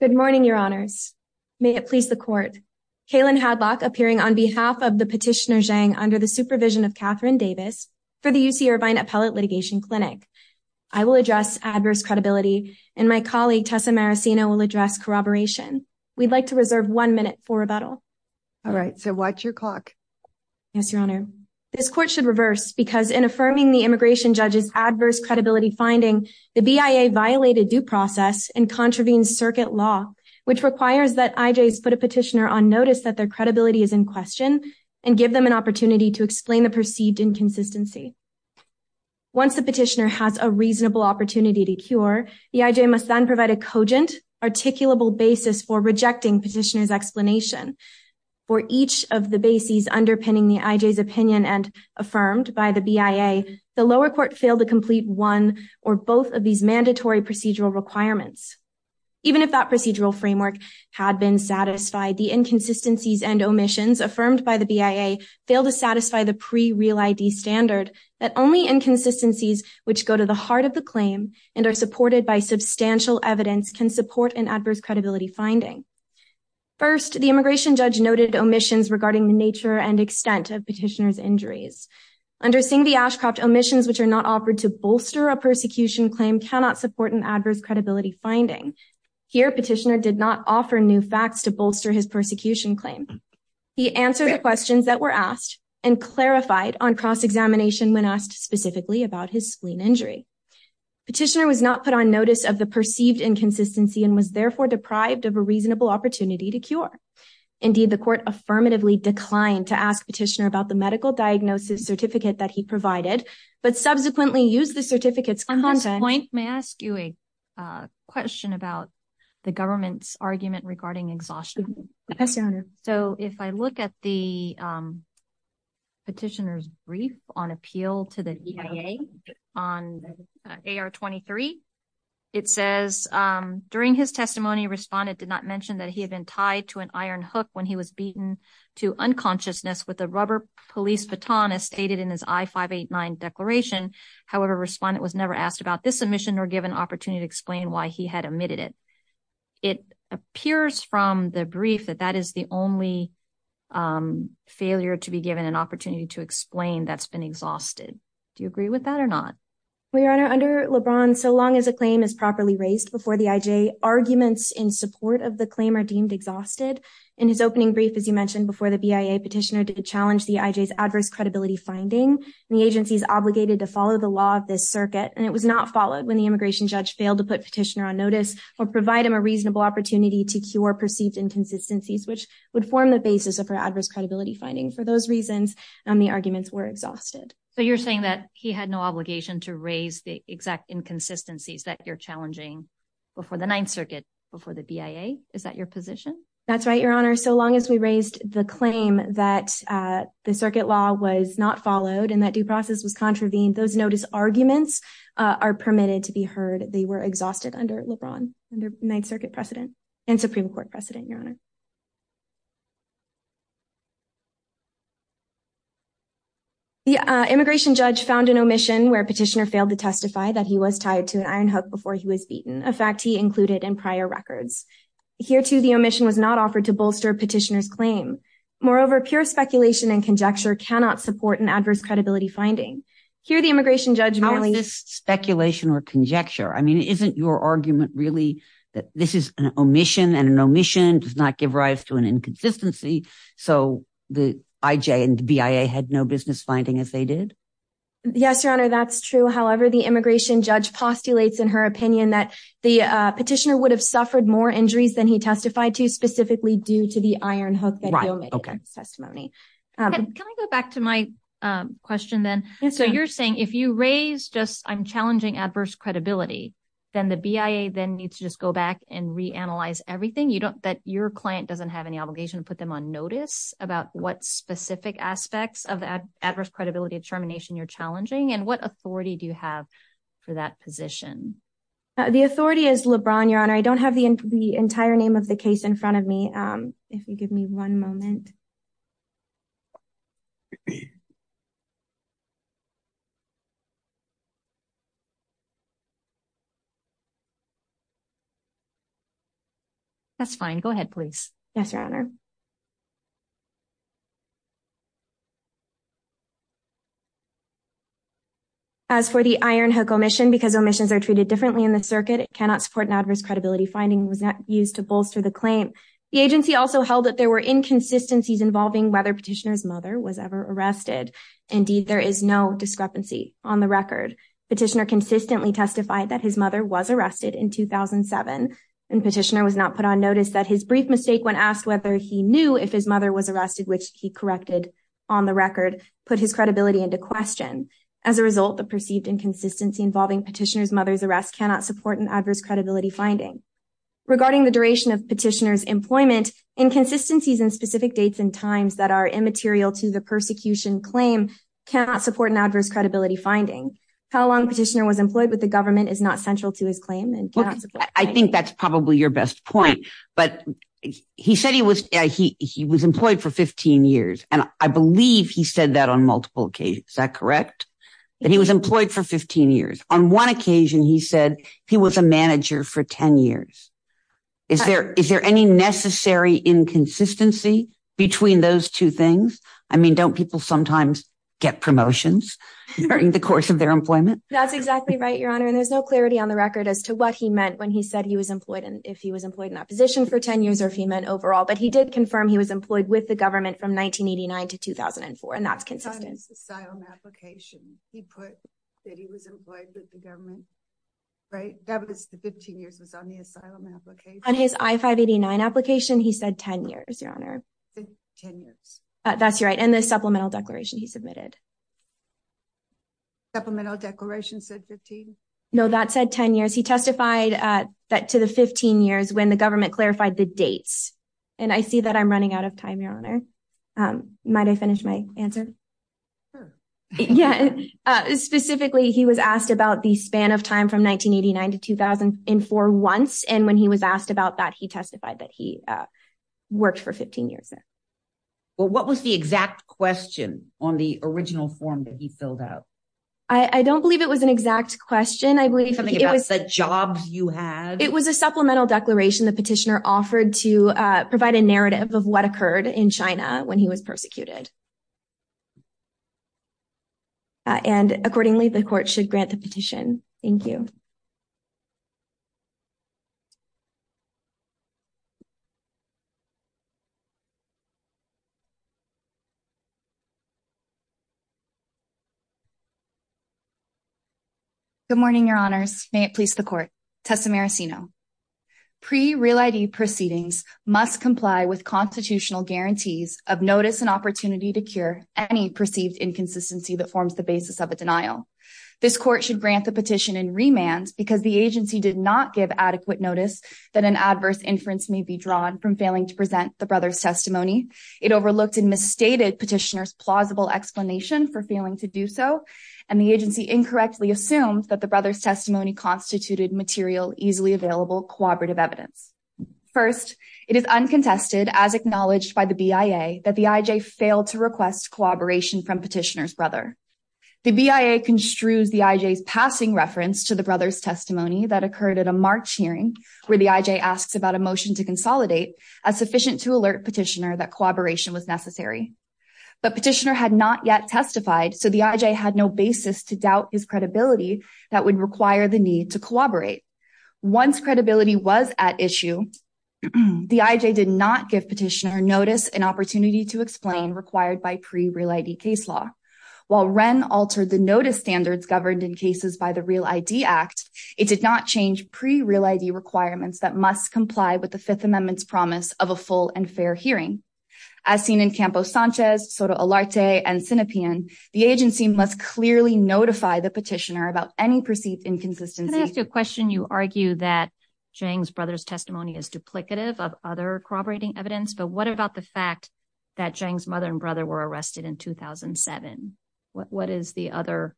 Good morning, your honors. May it please the court. Kaylin Hadlock appearing on behalf of the petitioner Zhang under the supervision of Catherine Davis for the UC Irvine Appellate Litigation Clinic. I will address adverse credibility and my colleague Tessa Marasino will address corroboration. We'd like to reserve one minute for rebuttal. All right, so watch your clock. Yes, your honor. This court should reverse because in affirming the immigration judges adverse credibility finding the BIA violated due process and contravenes circuit law, which requires that IJs put a petitioner on notice that their credibility is in question and give them an opportunity to explain the perceived inconsistency. Once the petitioner has a reasonable opportunity to cure, the IJ must then provide a cogent, articulable basis for rejecting petitioner's explanation. For each of the bases underpinning the IJs opinion and affirmed by the BIA, the lower court failed to complete one or both of these mandatory procedural requirements. Even if that procedural framework had been satisfied, the inconsistencies and omissions affirmed by the BIA failed to satisfy the pre-real ID standard that only inconsistencies which go to the heart of the claim and are supported by substantial evidence can support an adverse credibility finding. First, the immigration judge noted omissions regarding the nature and extent of petitioner's injuries. Under Singh v. Ashcroft, omissions which are not offered to bolster a persecution claim cannot support an adverse credibility finding. Here, petitioner did not offer new facts to bolster his persecution claim. He answered the questions that were asked and clarified on cross-examination when asked specifically about his spleen injury. Petitioner was not put on notice of the perceived inconsistency and was therefore deprived of a reasonable opportunity to cure. Indeed, the court affirmatively declined to ask petitioner about the medical diagnosis certificate that he provided, but subsequently used the certificate's content. At this point, may I ask you a question about the government's argument regarding exhaustion? Yes, Your Honor. So, if I look at the petitioner's brief on appeal to the BIA on AR-23, it says, During his testimony, respondent did not mention that he had been tied to an iron hook when he was beaten to unconsciousness with a rubber police baton as stated in his I-589 declaration. However, respondent was never asked about this omission nor given opportunity to explain why he had omitted it. It appears from the brief that that is the only failure to be given an opportunity to explain that's been exhausted. Do you agree with that or not? Well, Your Honor, under LeBron, so long as a claim is properly raised before the IJ, arguments in support of the claim are deemed exhausted. In his opening brief, as you mentioned before, the BIA petitioner did challenge the IJ's adverse credibility finding. The agency is obligated to follow the law of this circuit, and it was not followed when the immigration judge failed to put petitioner on notice or provide him a reasonable opportunity to cure perceived inconsistencies, which would form the basis of her adverse credibility finding. For those reasons, the arguments were exhausted. So you're saying that he had no obligation to raise the exact inconsistencies that you're challenging before the Ninth Circuit, before the BIA? Is that your position? That's right, Your Honor. So long as we raised the claim that the circuit law was not followed and that due process was contravened, those notice arguments are permitted to be heard. They were exhausted under LeBron, under Ninth Circuit precedent and Supreme Court precedent, Your Honor. The immigration judge found an omission where petitioner failed to testify that he was tied to an iron hook before he was beaten, a fact he included in prior records. Here, too, the omission was not offered to bolster petitioner's claim. Moreover, pure speculation and conjecture cannot support an adverse credibility finding. Here, the immigration judge merely… How is this speculation or conjecture? I mean, isn't your argument really that this is an omission and an omission does not give rise to an inconsistency? So the IJ and the BIA had no business finding as they did? Yes, Your Honor. That's true. However, the immigration judge postulates in her opinion that the petitioner would have suffered more injuries than he testified to, specifically due to the iron hook that he omitted in his testimony. Can I go back to my question then? So you're saying if you raise just I'm challenging adverse credibility, then the BIA then needs to just go back and reanalyze everything? That your client doesn't have any obligation to put them on notice about what specific aspects of the adverse credibility determination you're challenging? And what authority do you have for that position? The authority is LeBron, Your Honor. I don't have the entire name of the case in front of me. If you give me one moment. That's fine. Go ahead, please. Yes, Your Honor. As for the iron hook omission, because omissions are treated differently in the circuit, it cannot support an adverse credibility finding was not used to bolster the claim. The agency also held that there were inconsistencies involving whether petitioner's mother was ever arrested. Indeed, there is no discrepancy on the record. Petitioner consistently testified that his mother was arrested in 2007. And petitioner was not put on notice that his brief mistake when asked whether he knew if his mother was arrested, which he corrected on the record, put his credibility into question. As a result, the perceived inconsistency involving petitioner's mother's arrest cannot support an adverse credibility finding. Regarding the duration of petitioner's employment, inconsistencies in specific dates and times that are immaterial to the persecution claim cannot support an adverse credibility finding. How long petitioner was employed with the government is not central to his claim. I think that's probably your best point. But he said he was he was employed for 15 years. And I believe he said that on multiple occasions. Is that correct? He was employed for 15 years. On one occasion, he said he was a manager for 10 years. Is there is there any necessary inconsistency between those two things? I mean, don't people sometimes get promotions during the course of their employment? That's exactly right, Your Honor. And there's no clarity on the record as to what he meant when he said he was employed and if he was employed in that position for 10 years or if he meant overall. But he did confirm he was employed with the government from 1989 to 2004. And that's consistent. On his asylum application, he put that he was employed with the government. Right. That was the 15 years was on the asylum application. On his I-589 application, he said 10 years, Your Honor. 10 years. That's right. And the supplemental declaration he submitted. Supplemental declaration said 15? No, that said 10 years. He testified that to the 15 years when the government clarified the dates. And I see that I'm running out of time, Your Honor. Might I finish my answer? Sure. Yeah. Specifically, he was asked about the span of time from 1989 to 2004 once. And when he was asked about that, he testified that he worked for 15 years there. Well, what was the exact question on the original form that he filled out? I don't believe it was an exact question. Maybe something about the jobs you had. It was a supplemental declaration the petitioner offered to provide a narrative of what occurred in China when he was persecuted. And accordingly, the court should grant the petition. Thank you. Good morning, Your Honors. May it please the court. Tessa Maracino. Pre-Real ID proceedings must comply with constitutional guarantees of notice and opportunity to cure any perceived inconsistency that forms the basis of a denial. This court should grant the petition in remand because the agency did not give adequate notice that an adverse inference may be drawn from failing to present the brother's testimony. It overlooked and misstated petitioner's plausible explanation for failing to do so, and the agency incorrectly assumed that the brother's testimony constituted material, easily available, cooperative evidence. First, it is uncontested, as acknowledged by the BIA, that the IJ failed to request cooperation from petitioner's brother. The BIA construes the IJ's passing reference to the brother's testimony that occurred at a March hearing, where the IJ asked about a motion to consolidate, as sufficient to alert petitioner that cooperation was necessary. But petitioner had not yet testified, so the IJ had no basis to doubt his credibility that would require the need to cooperate. Once credibility was at issue, the IJ did not give petitioner notice and opportunity to explain required by Pre-Real ID case law. While Wren altered the notice standards governed in cases by the Real ID Act, it did not change Pre-Real ID requirements that must comply with the Fifth Amendment's promise of a full and fair hearing. As seen in Campo Sanchez, Soto Alarte, and Sinopean, the agency must clearly notify the petitioner about any perceived inconsistency. When asked a question, you argue that Zhang's brother's testimony is duplicative of other corroborating evidence, but what about the fact that Zhang's mother and brother were arrested in 2007? What is the other,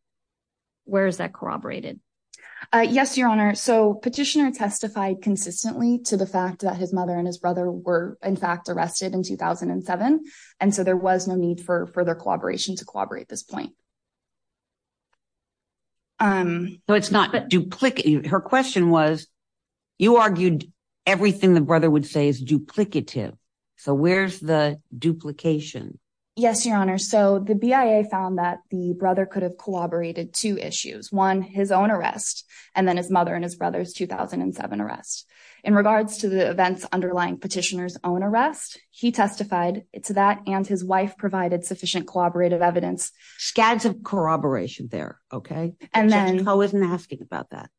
where is that corroborated? Yes, Your Honor, so petitioner testified consistently to the fact that his mother and his brother were in fact arrested in 2007, and so there was no need for further cooperation to corroborate this point. Her question was, you argued everything the brother would say is duplicative, so where's the duplication? Yes, Your Honor, so the BIA found that the brother could have corroborated two issues, one, his own arrest, and then his mother and his brother's 2007 arrest. In regards to the events underlying petitioner's own arrest, he testified to that, and his wife provided sufficient corroborative evidence. Scads of corroboration there, okay? And then— So Chico isn't asking about that.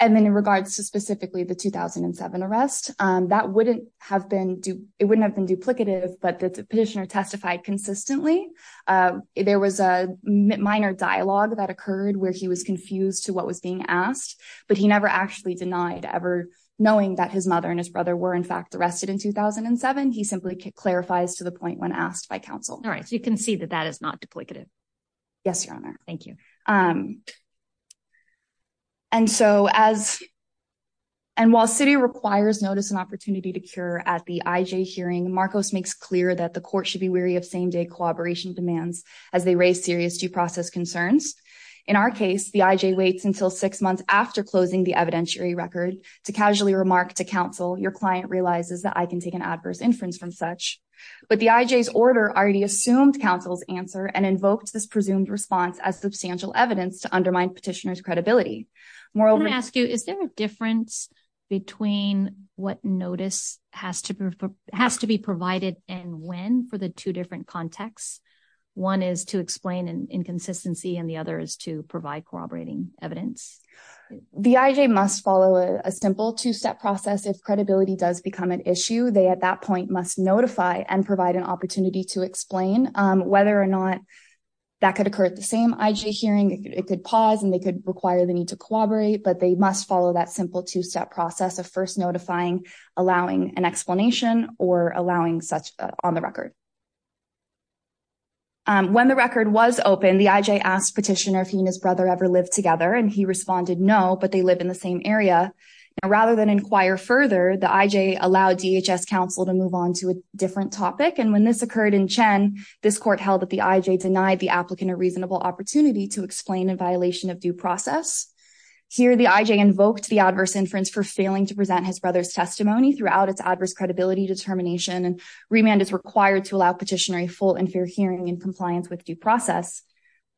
And then in regards to specifically the 2007 arrest, that wouldn't have been duplicative, but the petitioner testified consistently. There was a minor dialogue that occurred where he was confused to what was being asked, but he never actually denied ever knowing that his mother and his brother were in fact arrested in 2007. He simply clarifies to the point when asked by counsel. All right, so you can see that that is not duplicative. Yes, Your Honor. Thank you. And so as— I want to ask you, is there a difference between what notice has to be provided and when for the two different contexts? One is to explain an inconsistency, and the other is to provide corroborating evidence. The IJ must follow a simple two-step process if credibility does become an issue. They, at that point, must notify and provide an opportunity to explain whether or not that could occur at the same IJ hearing. It could pause, and they could require the need to corroborate, but they must follow that simple two-step process of first notifying, allowing an explanation, or allowing such on the record. When the record was opened, the IJ asked petitioner if he and his brother ever lived together, and he responded no, but they live in the same area. Now, rather than inquire further, the IJ allowed DHS counsel to move on to a different topic, and when this occurred in Chen, this court held that the IJ denied the applicant a reasonable opportunity to explain in violation of due process. Here, the IJ invoked the adverse inference for failing to present his brother's testimony throughout its adverse credibility determination, and remand is required to allow petitioner a full and fair hearing in compliance with due process.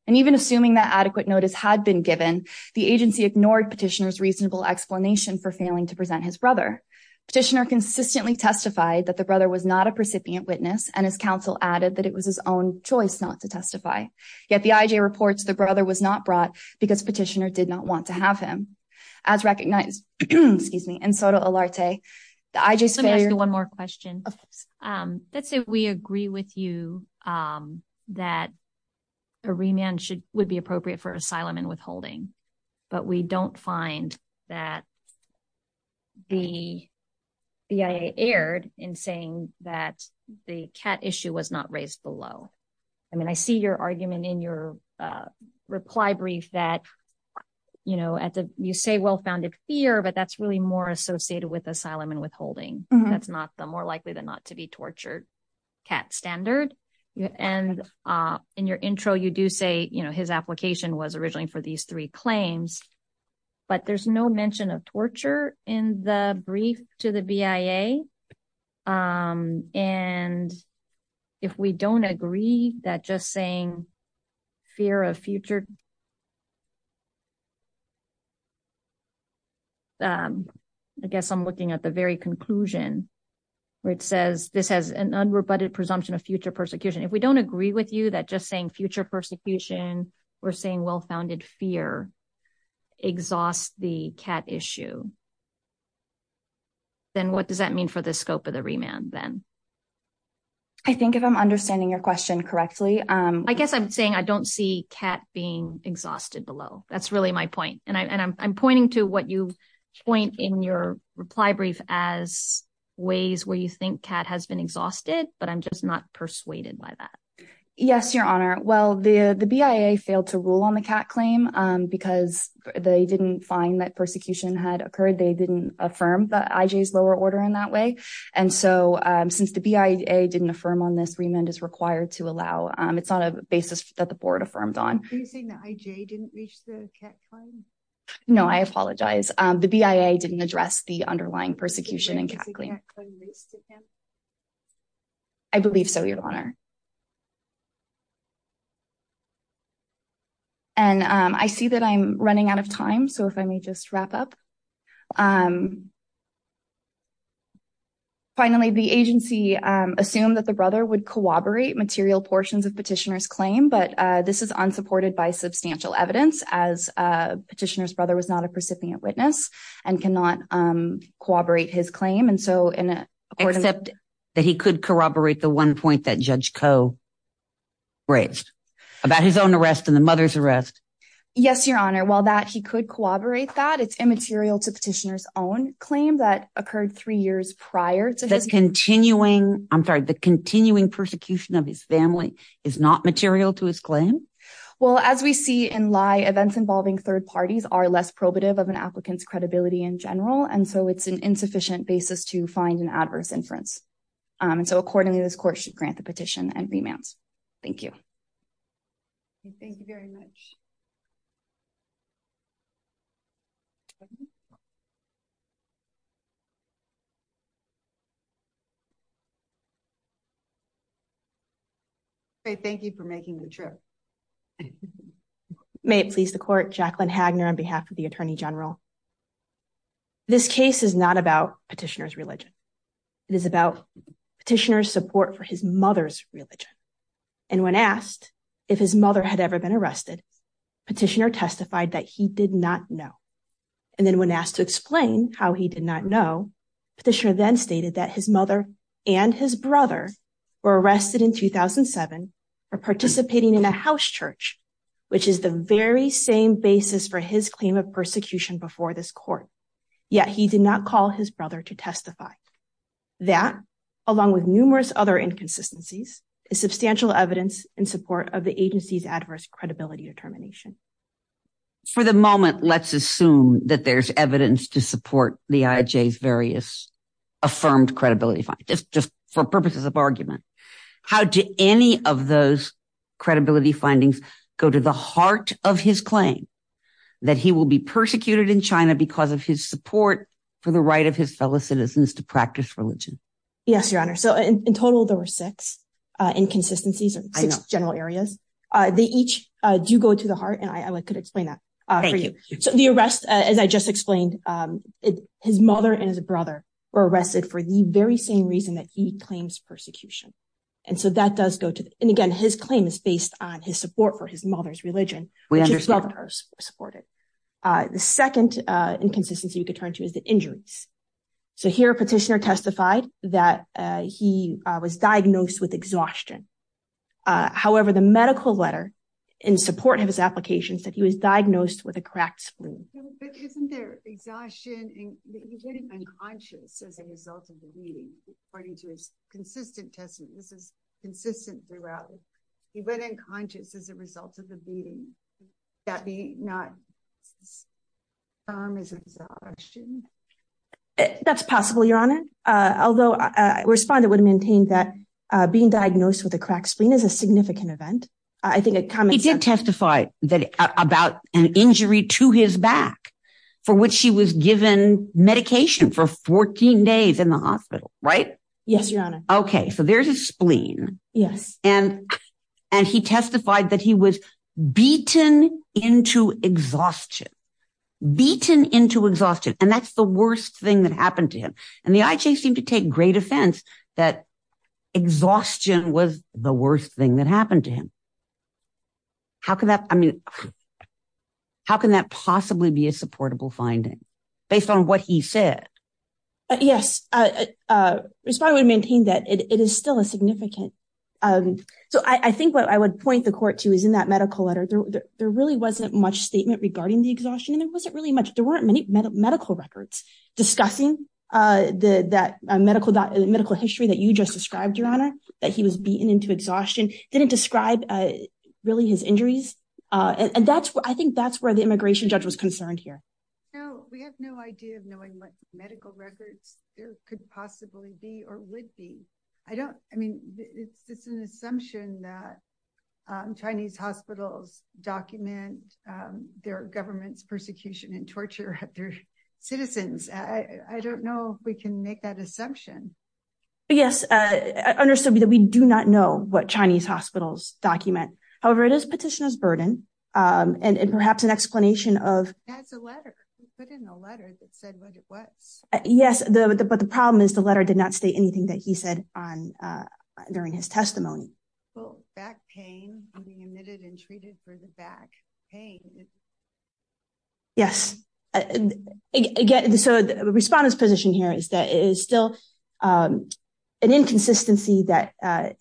And even assuming that adequate notice had been given, the agency ignored petitioner's reasonable explanation for failing to present his brother. Petitioner consistently testified that the brother was not a precipient witness, and his counsel added that it was his own choice not to testify. Yet the IJ reports the brother was not brought because petitioner did not want to have him. As recognized in SOTA Alarte, the IJ's failure… A remand would be appropriate for asylum and withholding, but we don't find that the IJ erred in saying that the CAT issue was not raised below. I mean, I see your argument in your reply brief that, you know, you say well-founded fear, but that's really more associated with asylum and withholding. That's not the more likely than not to be tortured CAT standard. And in your intro, you do say, you know, his application was originally for these three claims. But there's no mention of torture in the brief to the BIA. And if we don't agree that just saying fear of future… If we don't agree with you that just saying future persecution or saying well-founded fear exhaust the CAT issue, then what does that mean for the scope of the remand then? I think if I'm understanding your question correctly, I guess I'm saying I don't see CAT being exhausted below. That's really my point. And I'm pointing to what you point in your reply brief as ways where you think CAT has been exhausted, but I'm just not persuaded by that. Yes, Your Honor. Well, the BIA failed to rule on the CAT claim because they didn't find that persecution had occurred. They didn't affirm the IJ's lower order in that way. And so since the BIA didn't affirm on this, remand is required to allow. It's not a basis that the board affirmed on. Are you saying that IJ didn't reach the CAT claim? No, I apologize. The BIA didn't address the underlying persecution and CAT claim. I believe so, Your Honor. And I see that I'm running out of time. So if I may just wrap up. Finally, the agency assumed that the brother would corroborate material portions of petitioner's claim. But this is unsupported by substantial evidence as petitioner's brother was not a recipient witness and cannot corroborate his claim. Except that he could corroborate the one point that Judge Koh raised about his own arrest and the mother's arrest. Yes, Your Honor. While that he could corroborate that it's immaterial to petitioner's own claim that occurred three years prior to his continuing. I'm sorry. The continuing persecution of his family is not material to his claim. Well, as we see in lie, events involving third parties are less probative of an applicant's credibility in general. And so it's an insufficient basis to find an adverse inference. And so accordingly, this court should grant the petition and remand. Thank you. Thank you very much. Thank you for making the trip. May it please the court, Jacqueline Hagner on behalf of the Attorney General. This case is not about petitioner's religion. It is about petitioner's support for his mother's religion. And when asked if his mother had ever been arrested, petitioner testified that he did not know. And then when asked to explain how he did not know, petitioner then stated that his mother and his brother were arrested in 2007 for participating in a house church, which is the very same basis for his claim of persecution before this court. Yet he did not call his brother to testify. That, along with numerous other inconsistencies, is substantial evidence in support of the agency's adverse credibility determination. For the moment, let's assume that there's evidence to support the IJ's various affirmed credibility, just for purposes of argument. How do any of those credibility findings go to the heart of his claim that he will be persecuted in China because of his support for the right of his fellow citizens to practice religion? Yes, Your Honor. So in total, there were six inconsistencies, six general areas. They each do go to the heart, and I could explain that for you. So the arrest, as I just explained, his mother and his brother were arrested for the very same reason that he claims persecution. And so that does go to, and again, his claim is based on his support for his mother's religion, which his brother supported. The second inconsistency we could turn to is the injuries. So here a petitioner testified that he was diagnosed with exhaustion. However, the medical letter in support of his application said he was diagnosed with a cracked spleen. But isn't there exhaustion, and he went unconscious as a result of the beating, according to his consistent testimony. This is consistent throughout. He went unconscious as a result of the beating. Could that be not termed as exhaustion? That's possible, Your Honor, although a responder would maintain that being diagnosed with a cracked spleen is a significant event. He did testify about an injury to his back for which he was given medication for 14 days in the hospital, right? Yes, Your Honor. Okay, so there's a spleen. Yes. And he testified that he was beaten into exhaustion, beaten into exhaustion, and that's the worst thing that happened to him. And the IJ seemed to take great offense that exhaustion was the worst thing that happened to him. How can that, I mean, how can that possibly be a supportable finding based on what he said? Yes, a responder would maintain that it is still a significant. So I think what I would point the court to is in that medical letter. There really wasn't much statement regarding the exhaustion. It wasn't really much. There weren't many medical records discussing that medical history that you just described, Your Honor, that he was beaten into exhaustion. Didn't describe really his injuries. And that's what I think that's where the immigration judge was concerned here. No, we have no idea of knowing what medical records there could possibly be or would be. I don't, I mean, it's just an assumption that Chinese hospitals document their government's persecution and torture of their citizens. I don't know if we can make that assumption. Yes, understood that we do not know what Chinese hospitals document. However, it is petitioner's burden, and perhaps an explanation of... That's a letter. He put in a letter that said what it was. Yes, but the problem is the letter did not state anything that he said during his testimony. Well, back pain and being admitted and treated for the back pain. Yes. Again, so the respondent's position here is that it is still an inconsistency that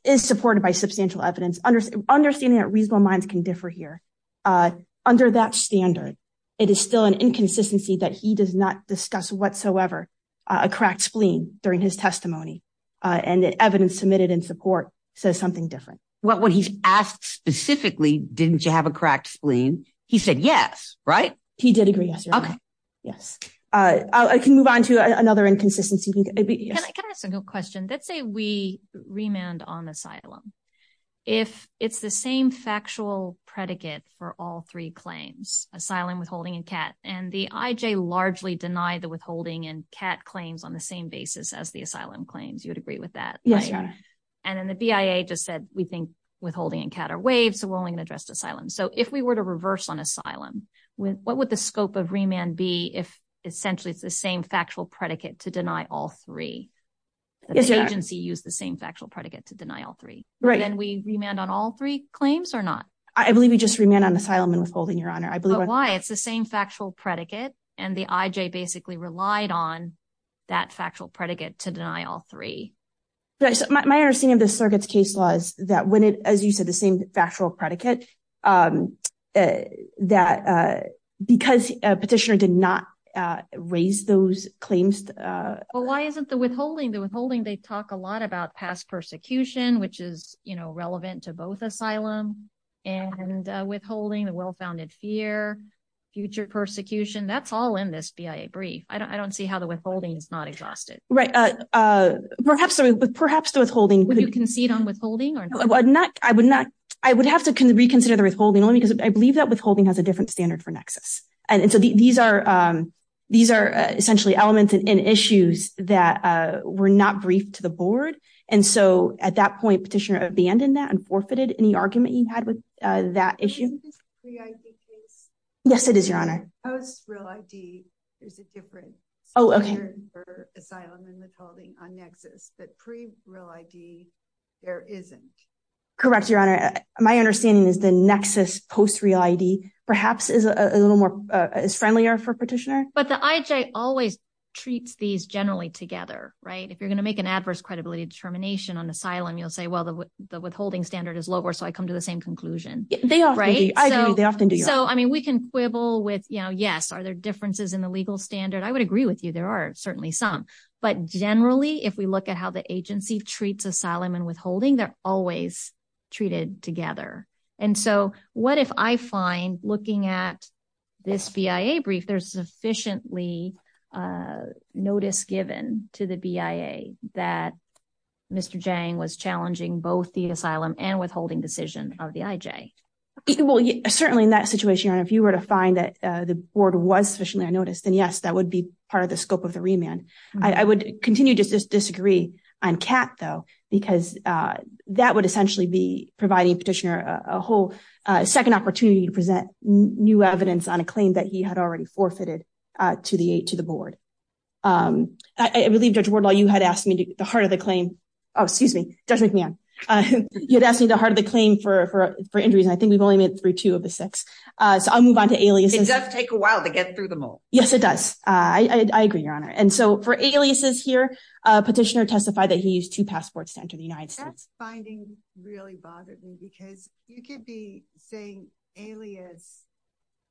is supported by substantial evidence. Understanding that reasonable minds can differ here. Under that standard, it is still an inconsistency that he does not discuss whatsoever a cracked spleen during his testimony. And the evidence submitted in support says something different. What he's asked specifically, didn't you have a cracked spleen? He said yes, right? He did agree. Okay. Yes. I can move on to another inconsistency. Can I ask a question? Let's say we remand on asylum. If it's the same factual predicate for all three claims, asylum, withholding and CAT, and the IJ largely denied the withholding and CAT claims on the same basis as the asylum claims, you would agree with that? Yes, Your Honor. And then the BIA just said, we think withholding and CAT are waived, so we're only going to address asylum. So if we were to reverse on asylum, what would the scope of remand be if essentially it's the same factual predicate to deny all three? The agency used the same factual predicate to deny all three. Right. Then we remand on all three claims or not? I believe we just remand on asylum and withholding, Your Honor. But why? It's the same factual predicate, and the IJ basically relied on that factual predicate to deny all three. My understanding of the circuit's case law is that when it, as you said, the same factual predicate, that because petitioner did not raise those claims. Well, why isn't the withholding? The withholding, they talk a lot about past persecution, which is, you know, relevant to both asylum and withholding, the well-founded fear, future persecution. That's all in this BIA brief. I don't see how the withholding is not exhausted. Right. Perhaps, perhaps the withholding. Would you concede on withholding or not? I would have to reconsider the withholding only because I believe that withholding has a different standard for nexus. And so these are essentially elements and issues that were not briefed to the board. And so at that point, petitioner abandoned that and forfeited any argument he had with that issue. Isn't this a pre-ID case? Yes, it is, Your Honor. Post-real ID is a different standard for asylum and withholding on nexus, but pre-real ID there isn't. Correct, Your Honor. My understanding is the nexus post-real ID perhaps is a little more is friendlier for petitioner. But the IJ always treats these generally together, right? If you're going to make an adverse credibility determination on asylum, you'll say, well, the withholding standard is lower. So I come to the same conclusion. They often do. I agree. They often do. So, I mean, we can quibble with, you know, yes, are there differences in the legal standard? I would agree with you. There are certainly some. But generally, if we look at how the agency treats asylum and withholding, they're always treated together. And so what if I find looking at this BIA brief, there's sufficiently notice given to the BIA that Mr. Jiang was challenging both the asylum and withholding decision of the IJ? Well, certainly in that situation, if you were to find that the board was sufficiently noticed, then, yes, that would be part of the scope of the remand. I would continue to disagree on CAT, though, because that would essentially be providing petitioner a whole second opportunity to present new evidence on a claim that he had already forfeited to the board. I believe, Judge Wardlaw, you had asked me the heart of the claim. Oh, excuse me, Judge McMahon. You had asked me the heart of the claim for injuries, and I think we've only made it through two of the six. So I'll move on to aliases. It does take a while to get through them all. Yes, it does. I agree, Your Honor. And so for aliases here, petitioner testified that he used two passports to enter the United States. Finding really bothered me, because you could be saying alias,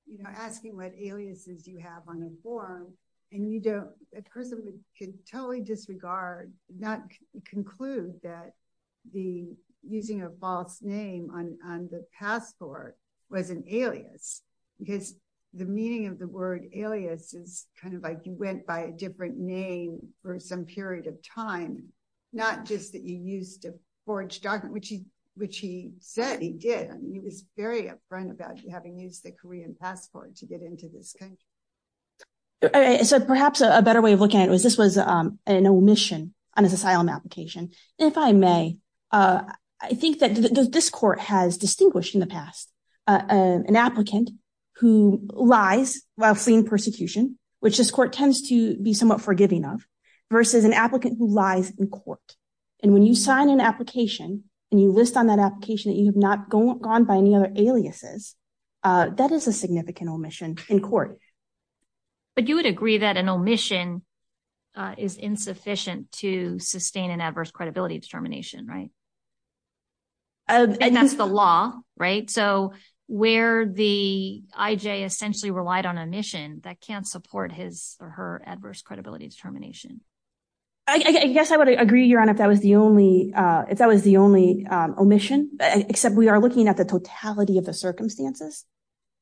you know, asking what aliases you have on a form, and you don't, a person could totally disregard, not conclude that the using a false name on the passport was an alias, because the meaning of the word alias is kind of like you went by a different name for some period of time. Not just that you used a forged document, which he said he did. He was very upfront about having used the Korean passport to get into this country. So perhaps a better way of looking at it was this was an omission on his asylum application. If I may, I think that this court has distinguished in the past an applicant who lies while fleeing persecution, which this court tends to be somewhat forgiving of, versus an applicant who lies in court. And when you sign an application, and you list on that application that you have not gone by any other aliases, that is a significant omission in court. But you would agree that an omission is insufficient to sustain an adverse credibility determination, right? And that's the law, right? So where the IJ essentially relied on omission, that can't support his or her adverse credibility determination. I guess I would agree, Your Honor, if that was the only omission, except we are looking at the totality of the circumstances.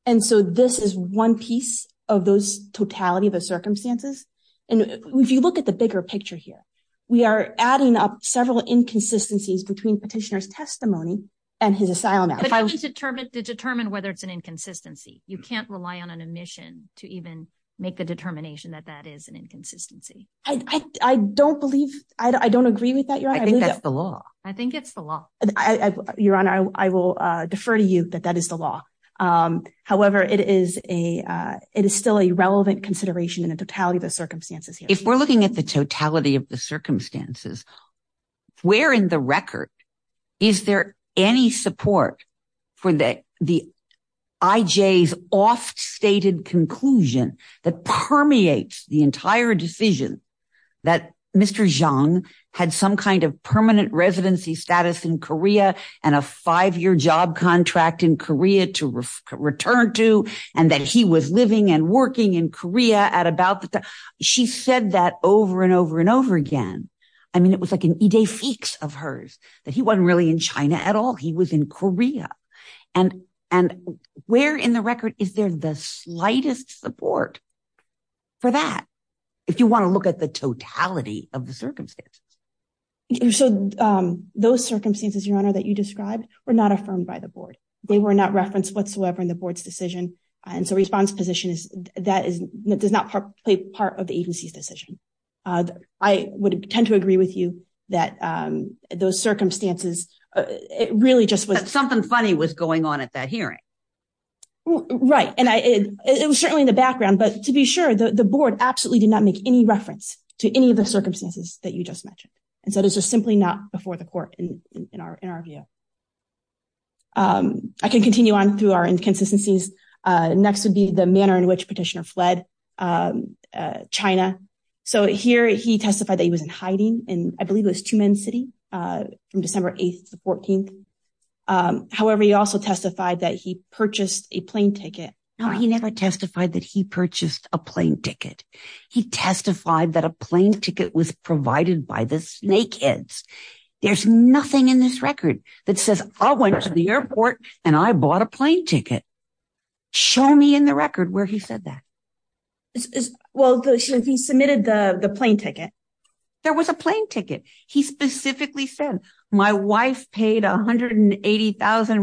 And so this is one piece of those totality of the circumstances. And if you look at the bigger picture here, we are adding up several inconsistencies between petitioner's testimony and his asylum application. But to determine whether it's an inconsistency, you can't rely on an omission to even make the determination that that is an inconsistency. I don't believe – I don't agree with that, Your Honor. I think that's the law. I think it's the law. Your Honor, I will defer to you that that is the law. However, it is a – it is still a relevant consideration in the totality of the circumstances here. If we're looking at the totality of the circumstances, where in the record is there any support for the IJ's oft-stated conclusion that permeates the entire decision that Mr. Jeong had some kind of permanent residency status in Korea and a five-year job contract in Korea to return to, and that he was living and working in Korea at about the time. She said that over and over and over again. I mean, it was like an idée fixe of hers, that he wasn't really in China at all. He was in Korea. And where in the record is there the slightest support for that, if you want to look at the totality of the circumstances? So those circumstances, Your Honor, that you described were not affirmed by the board. They were not referenced whatsoever in the board's decision. And so response position is – that does not play part of the agency's decision. I would tend to agree with you that those circumstances really just was – But something funny was going on at that hearing. Right. And it was certainly in the background. But to be sure, the board absolutely did not make any reference to any of the circumstances that you just mentioned. And so those are simply not before the court in our view. I can continue on through our inconsistencies. Next would be the manner in which Petitioner fled China. So here he testified that he was in hiding in I believe it was Tumen City from December 8th to the 14th. However, he also testified that he purchased a plane ticket. No, he never testified that he purchased a plane ticket. He testified that a plane ticket was provided by the snakeheads. There's nothing in this record that says, I went to the airport and I bought a plane ticket. Show me in the record where he said that. Well, he submitted the plane ticket. There was a plane ticket. He specifically said, my wife paid RMB 180,000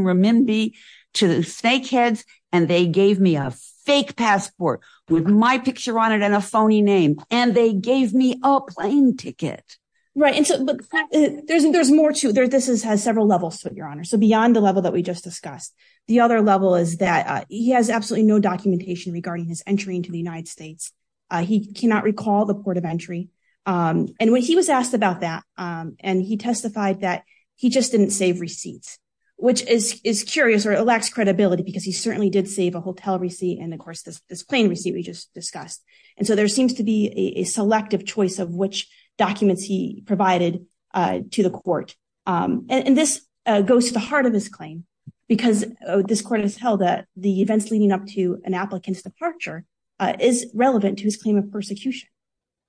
to the snakeheads and they gave me a fake passport with my picture on it and a phony name. And they gave me a plane ticket. Right. There's more to it. This has several levels, Your Honor. So beyond the level that we just discussed, the other level is that he has absolutely no documentation regarding his entry into the United States. He cannot recall the port of entry. And when he was asked about that, and he testified that he just didn't save receipts, which is curious or it lacks credibility because he certainly did save a hotel receipt. And of course, this plane receipt we just discussed. And so there seems to be a selective choice of which documents he provided to the court. And this goes to the heart of this claim, because this court has held that the events leading up to an applicant's departure is relevant to his claim of persecution.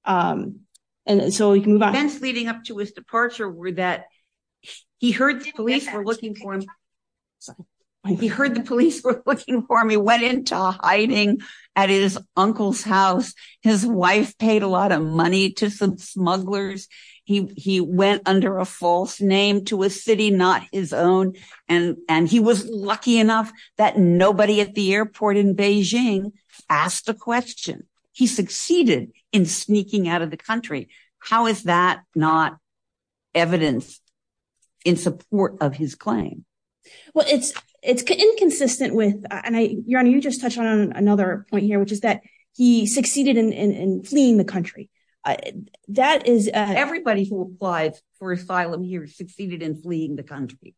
And so we can move on. Events leading up to his departure were that he heard the police were looking for him. He heard the police were looking for him. He went into hiding at his uncle's house. His wife paid a lot of money to some smugglers. He went under a false name to a city not his own. And he was lucky enough that nobody at the airport in Beijing asked a question. He succeeded in sneaking out of the country. How is that not evidence in support of his claim? Well, it's it's inconsistent with your honor. You just touched on another point here, which is that he succeeded in fleeing the country. That is everybody who applied for asylum here succeeded in fleeing the country.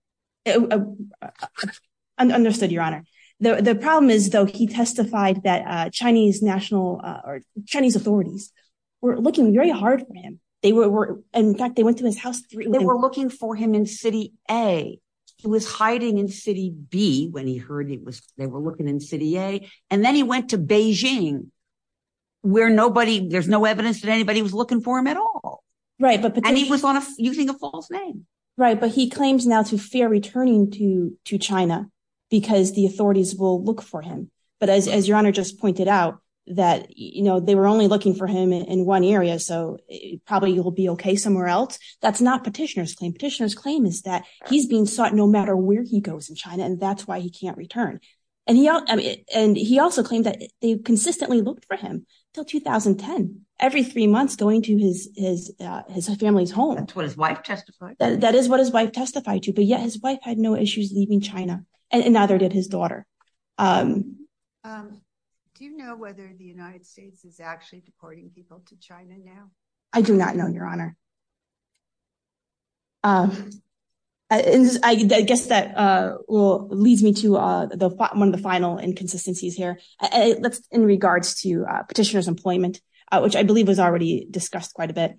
I understood your honor. The problem is, though, he testified that Chinese national or Chinese authorities were looking very hard for him. They were in fact, they went to his house. They were looking for him in City A. He was hiding in City B when he heard it was they were looking in City A. And then he went to Beijing where nobody there's no evidence that anybody was looking for him at all. Right. But he was using a false name. Right. But he claims now to fear returning to to China because the authorities will look for him. But as your honor just pointed out that, you know, they were only looking for him in one area. So probably you will be OK somewhere else. That's not petitioners claim. Petitioners claim is that he's being sought no matter where he goes in China. And that's why he can't return. And he and he also claimed that they consistently looked for him till 2010. Every three months going to his is his family's home. That's what his wife testified. That is what his wife testified to. But yet his wife had no issues leaving China. And neither did his daughter. Do you know whether the United States is actually deporting people to China now? I do not know, your honor. I guess that leads me to one of the final inconsistencies here. Let's in regards to petitioners employment, which I believe was already discussed quite a bit.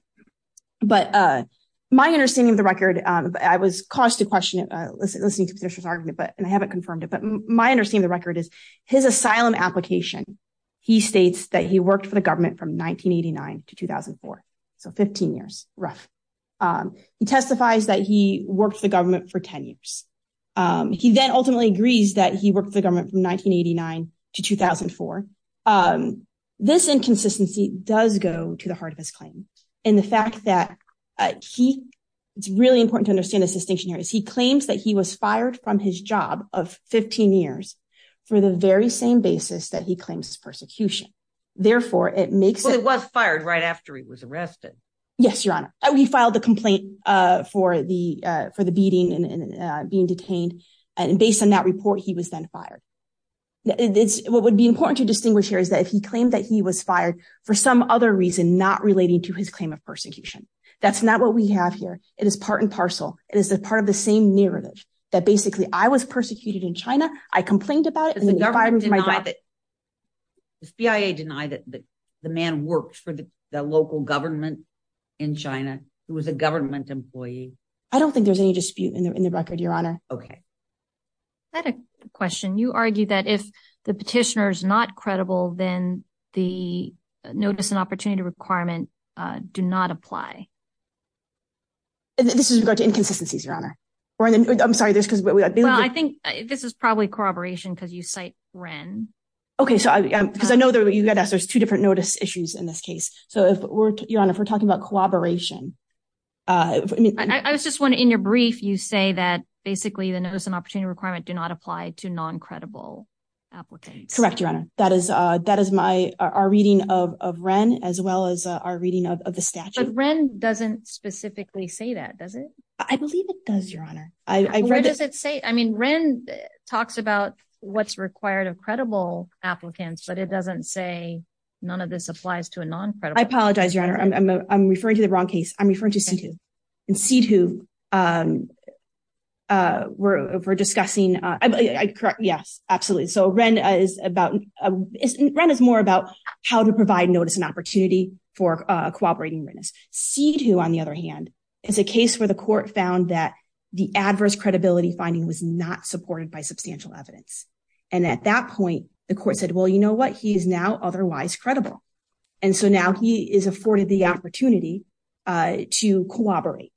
But my understanding of the record, I was caused to question it. Let's listen to this argument. But I haven't confirmed it. But my understanding, the record is his asylum application. He states that he worked for the government from 1989 to 2004. So 15 years rough. He testifies that he worked for the government for 10 years. He then ultimately agrees that he worked for the government from 1989 to 2004. This inconsistency does go to the heart of his claim. And the fact that he it's really important to understand this distinction here is he claims that he was fired from his job of 15 years for the very same basis that he claims persecution. Therefore, it makes it was fired right after he was arrested. Yes, your honor. We filed a complaint for the for the beating and being detained. And based on that report, he was then fired. What would be important to distinguish here is that if he claimed that he was fired for some other reason not relating to his claim of persecution, that's not what we have here. It is part and parcel. It is a part of the same narrative that basically I was persecuted in China. I complained about it and the government denied that the CIA denied that the man worked for the local government in China who was a government employee. I don't think there's any dispute in the record, your honor. Okay. I had a question. You argue that if the petitioner is not credible, then the notice and opportunity requirement do not apply. This is about inconsistencies, your honor, or I'm sorry, this because I think this is probably corroboration because you cite Ren. Okay, so I because I know that you got us there's two different notice issues in this case. So if we're on if we're talking about cooperation. I was just wondering your brief you say that basically the notice and opportunity requirement do not apply to non credible applicants. Correct, your honor. That is, that is my our reading of Ren, as well as our reading of the statute. Ren doesn't specifically say that does it. I believe it does, your honor. I read it say I mean Ren talks about what's required of credible applicants but it doesn't say, none of this applies to a non credible. I apologize, your honor, I'm referring to the wrong case, I'm referring to C2 and C2. We're discussing. Yes, absolutely. So Ren is about Ren is more about how to provide notice and opportunity for cooperating witness C2 on the other hand, is a case where the court found that the adverse credibility finding was not supported by substantial evidence. And at that point, the court said well you know what he's now otherwise credible. And so now he is afforded the opportunity to cooperate.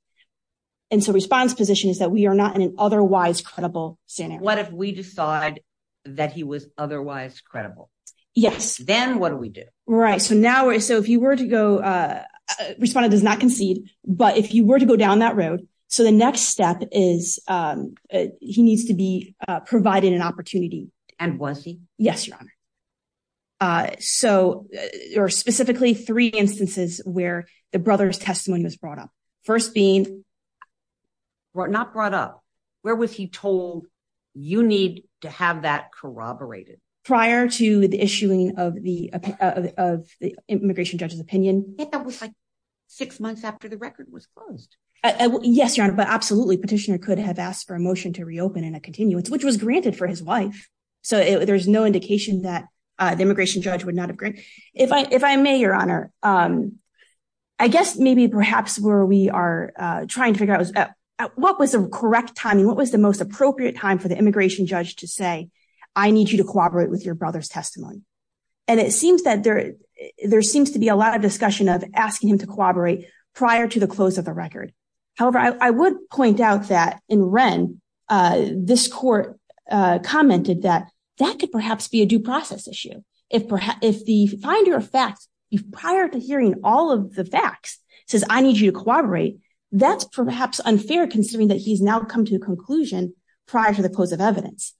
And so response position is that we are not in an otherwise credible center. What if we decide that he was otherwise credible. Yes, then what do we do right so now so if you were to go respond does not concede, but if you were to go down that road. So the next step is, he needs to be provided an opportunity. And was he. Yes, your honor. So, or specifically three instances where the brother's testimony was brought up. First being brought not brought up. Where was he told you need to have that corroborated prior to the issuing of the of the immigration judges opinion, six months after the record was closed. Yes, your honor but absolutely petitioner could have asked for a motion to reopen and a continuance which was granted for his wife. So there's no indication that the immigration judge would not agree. If I if I may, your honor. I guess maybe perhaps where we are trying to figure out what was the correct time and what was the most appropriate time for the immigration judge to say, I need you to cooperate with your brother's testimony. And it seems that there, there seems to be a lot of discussion of asking him to cooperate. Prior to the close of the record. However, I would point out that in Ren, this court commented that that could perhaps be a due process issue. If, if the finder of facts, if prior to hearing all of the facts, says I need you to cooperate. That's perhaps unfair considering that he's now come to a conclusion, prior to the close of evidence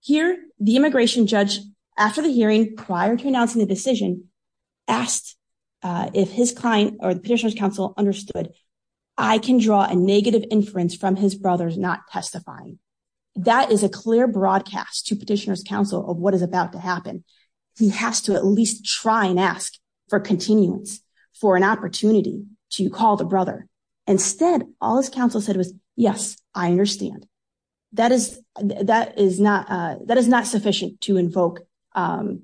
here, the immigration judge. After the hearing prior to announcing the decision asked if his client or the petitioner's counsel understood. I can draw a negative inference from his brother's not testifying. That is a clear broadcast to petitioners counsel of what is about to happen. He has to at least try and ask for continuance for an opportunity to call the brother. Instead, all his counsel said was, yes, I understand. That is, that is not that is not sufficient to invoke an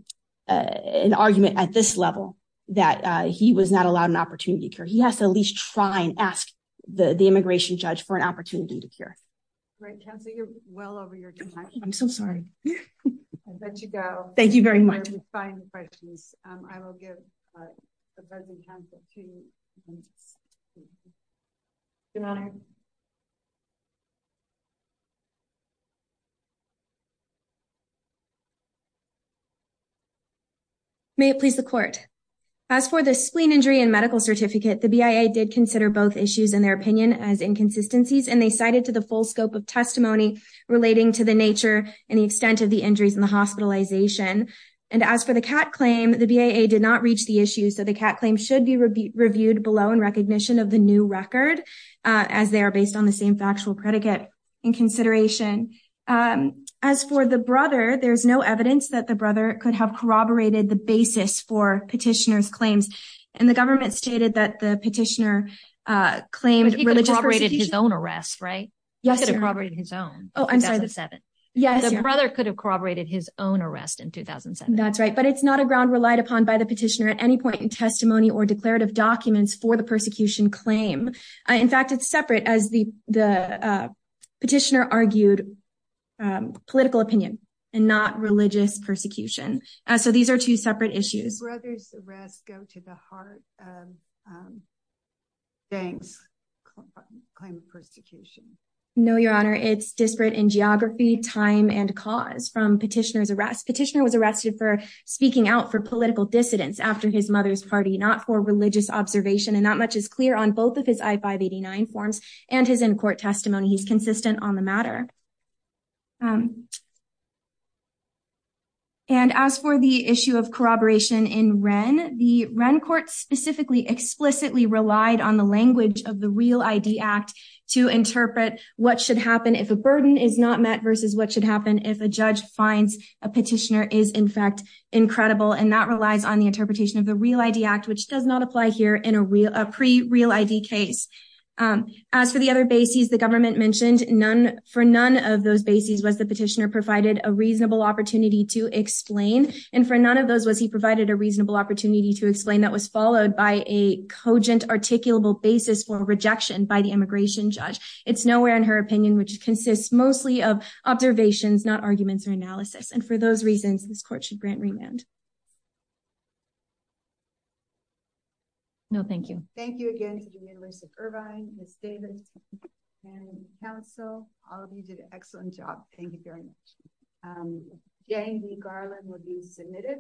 argument at this level that he was not allowed an opportunity to care he has to at least try and ask the immigration judge for an opportunity to care. Well over your time, I'm so sorry. Let you go. Thank you very much. I will give the president. Good morning. May it please the court. As for the spleen injury and medical certificate the BIA did consider both issues in their opinion as inconsistencies and they cited to the full scope of testimony, relating to the nature and the extent of the injuries in the hospitalization. And as for the cat claim the BIA did not reach the issue so the cat claim should be reviewed below and recognition of the new record, as they are based on the same factual predicate and consideration. As for the brother there's no evidence that the brother could have corroborated the basis for petitioners claims, and the government stated that the petitioner claimed really corroborated his own arrest right. Yes corroborated his own. Oh, I'm sorry that seven. Yes, brother could have corroborated his own arrest in 2007 that's right but it's not a ground relied upon by the petitioner at any point in testimony or declarative documents for the persecution claim. In fact, it's separate as the, the petitioner argued political opinion, and not religious persecution. So these are two separate issues. Did the brother's arrest go to the heart of Dank's claim of persecution. No, your honor it's disparate in geography time and cause from petitioners arrest petitioner was arrested for speaking out for political dissidents after his mother's party not for religious observation and not much is clear on both of his I 589 forms, and his in court testimony he's consistent on the matter. And as for the issue of corroboration in Ren, the rent court specifically explicitly relied on the language of the real ID act to interpret what should happen if a burden is not met versus what should happen if a judge finds a petitioner is in fact incredible and that relies on the interpretation of the real ID act which does not apply here in a real pre real ID case. As for the other bases the government mentioned, none for none of those bases was the petitioner provided a reasonable opportunity to explain, and for none of those was he provided a reasonable opportunity to explain that was followed by a cogent articulable basis for rejection by the immigration judge, it's nowhere in her opinion which consists mostly of observations not arguments or analysis and for those reasons this court should grant remand. No, thank you. Thank you again to the University of Irvine, Mr. So, all of you did an excellent job. Thank you very much. Yeah, Garland would be submitted.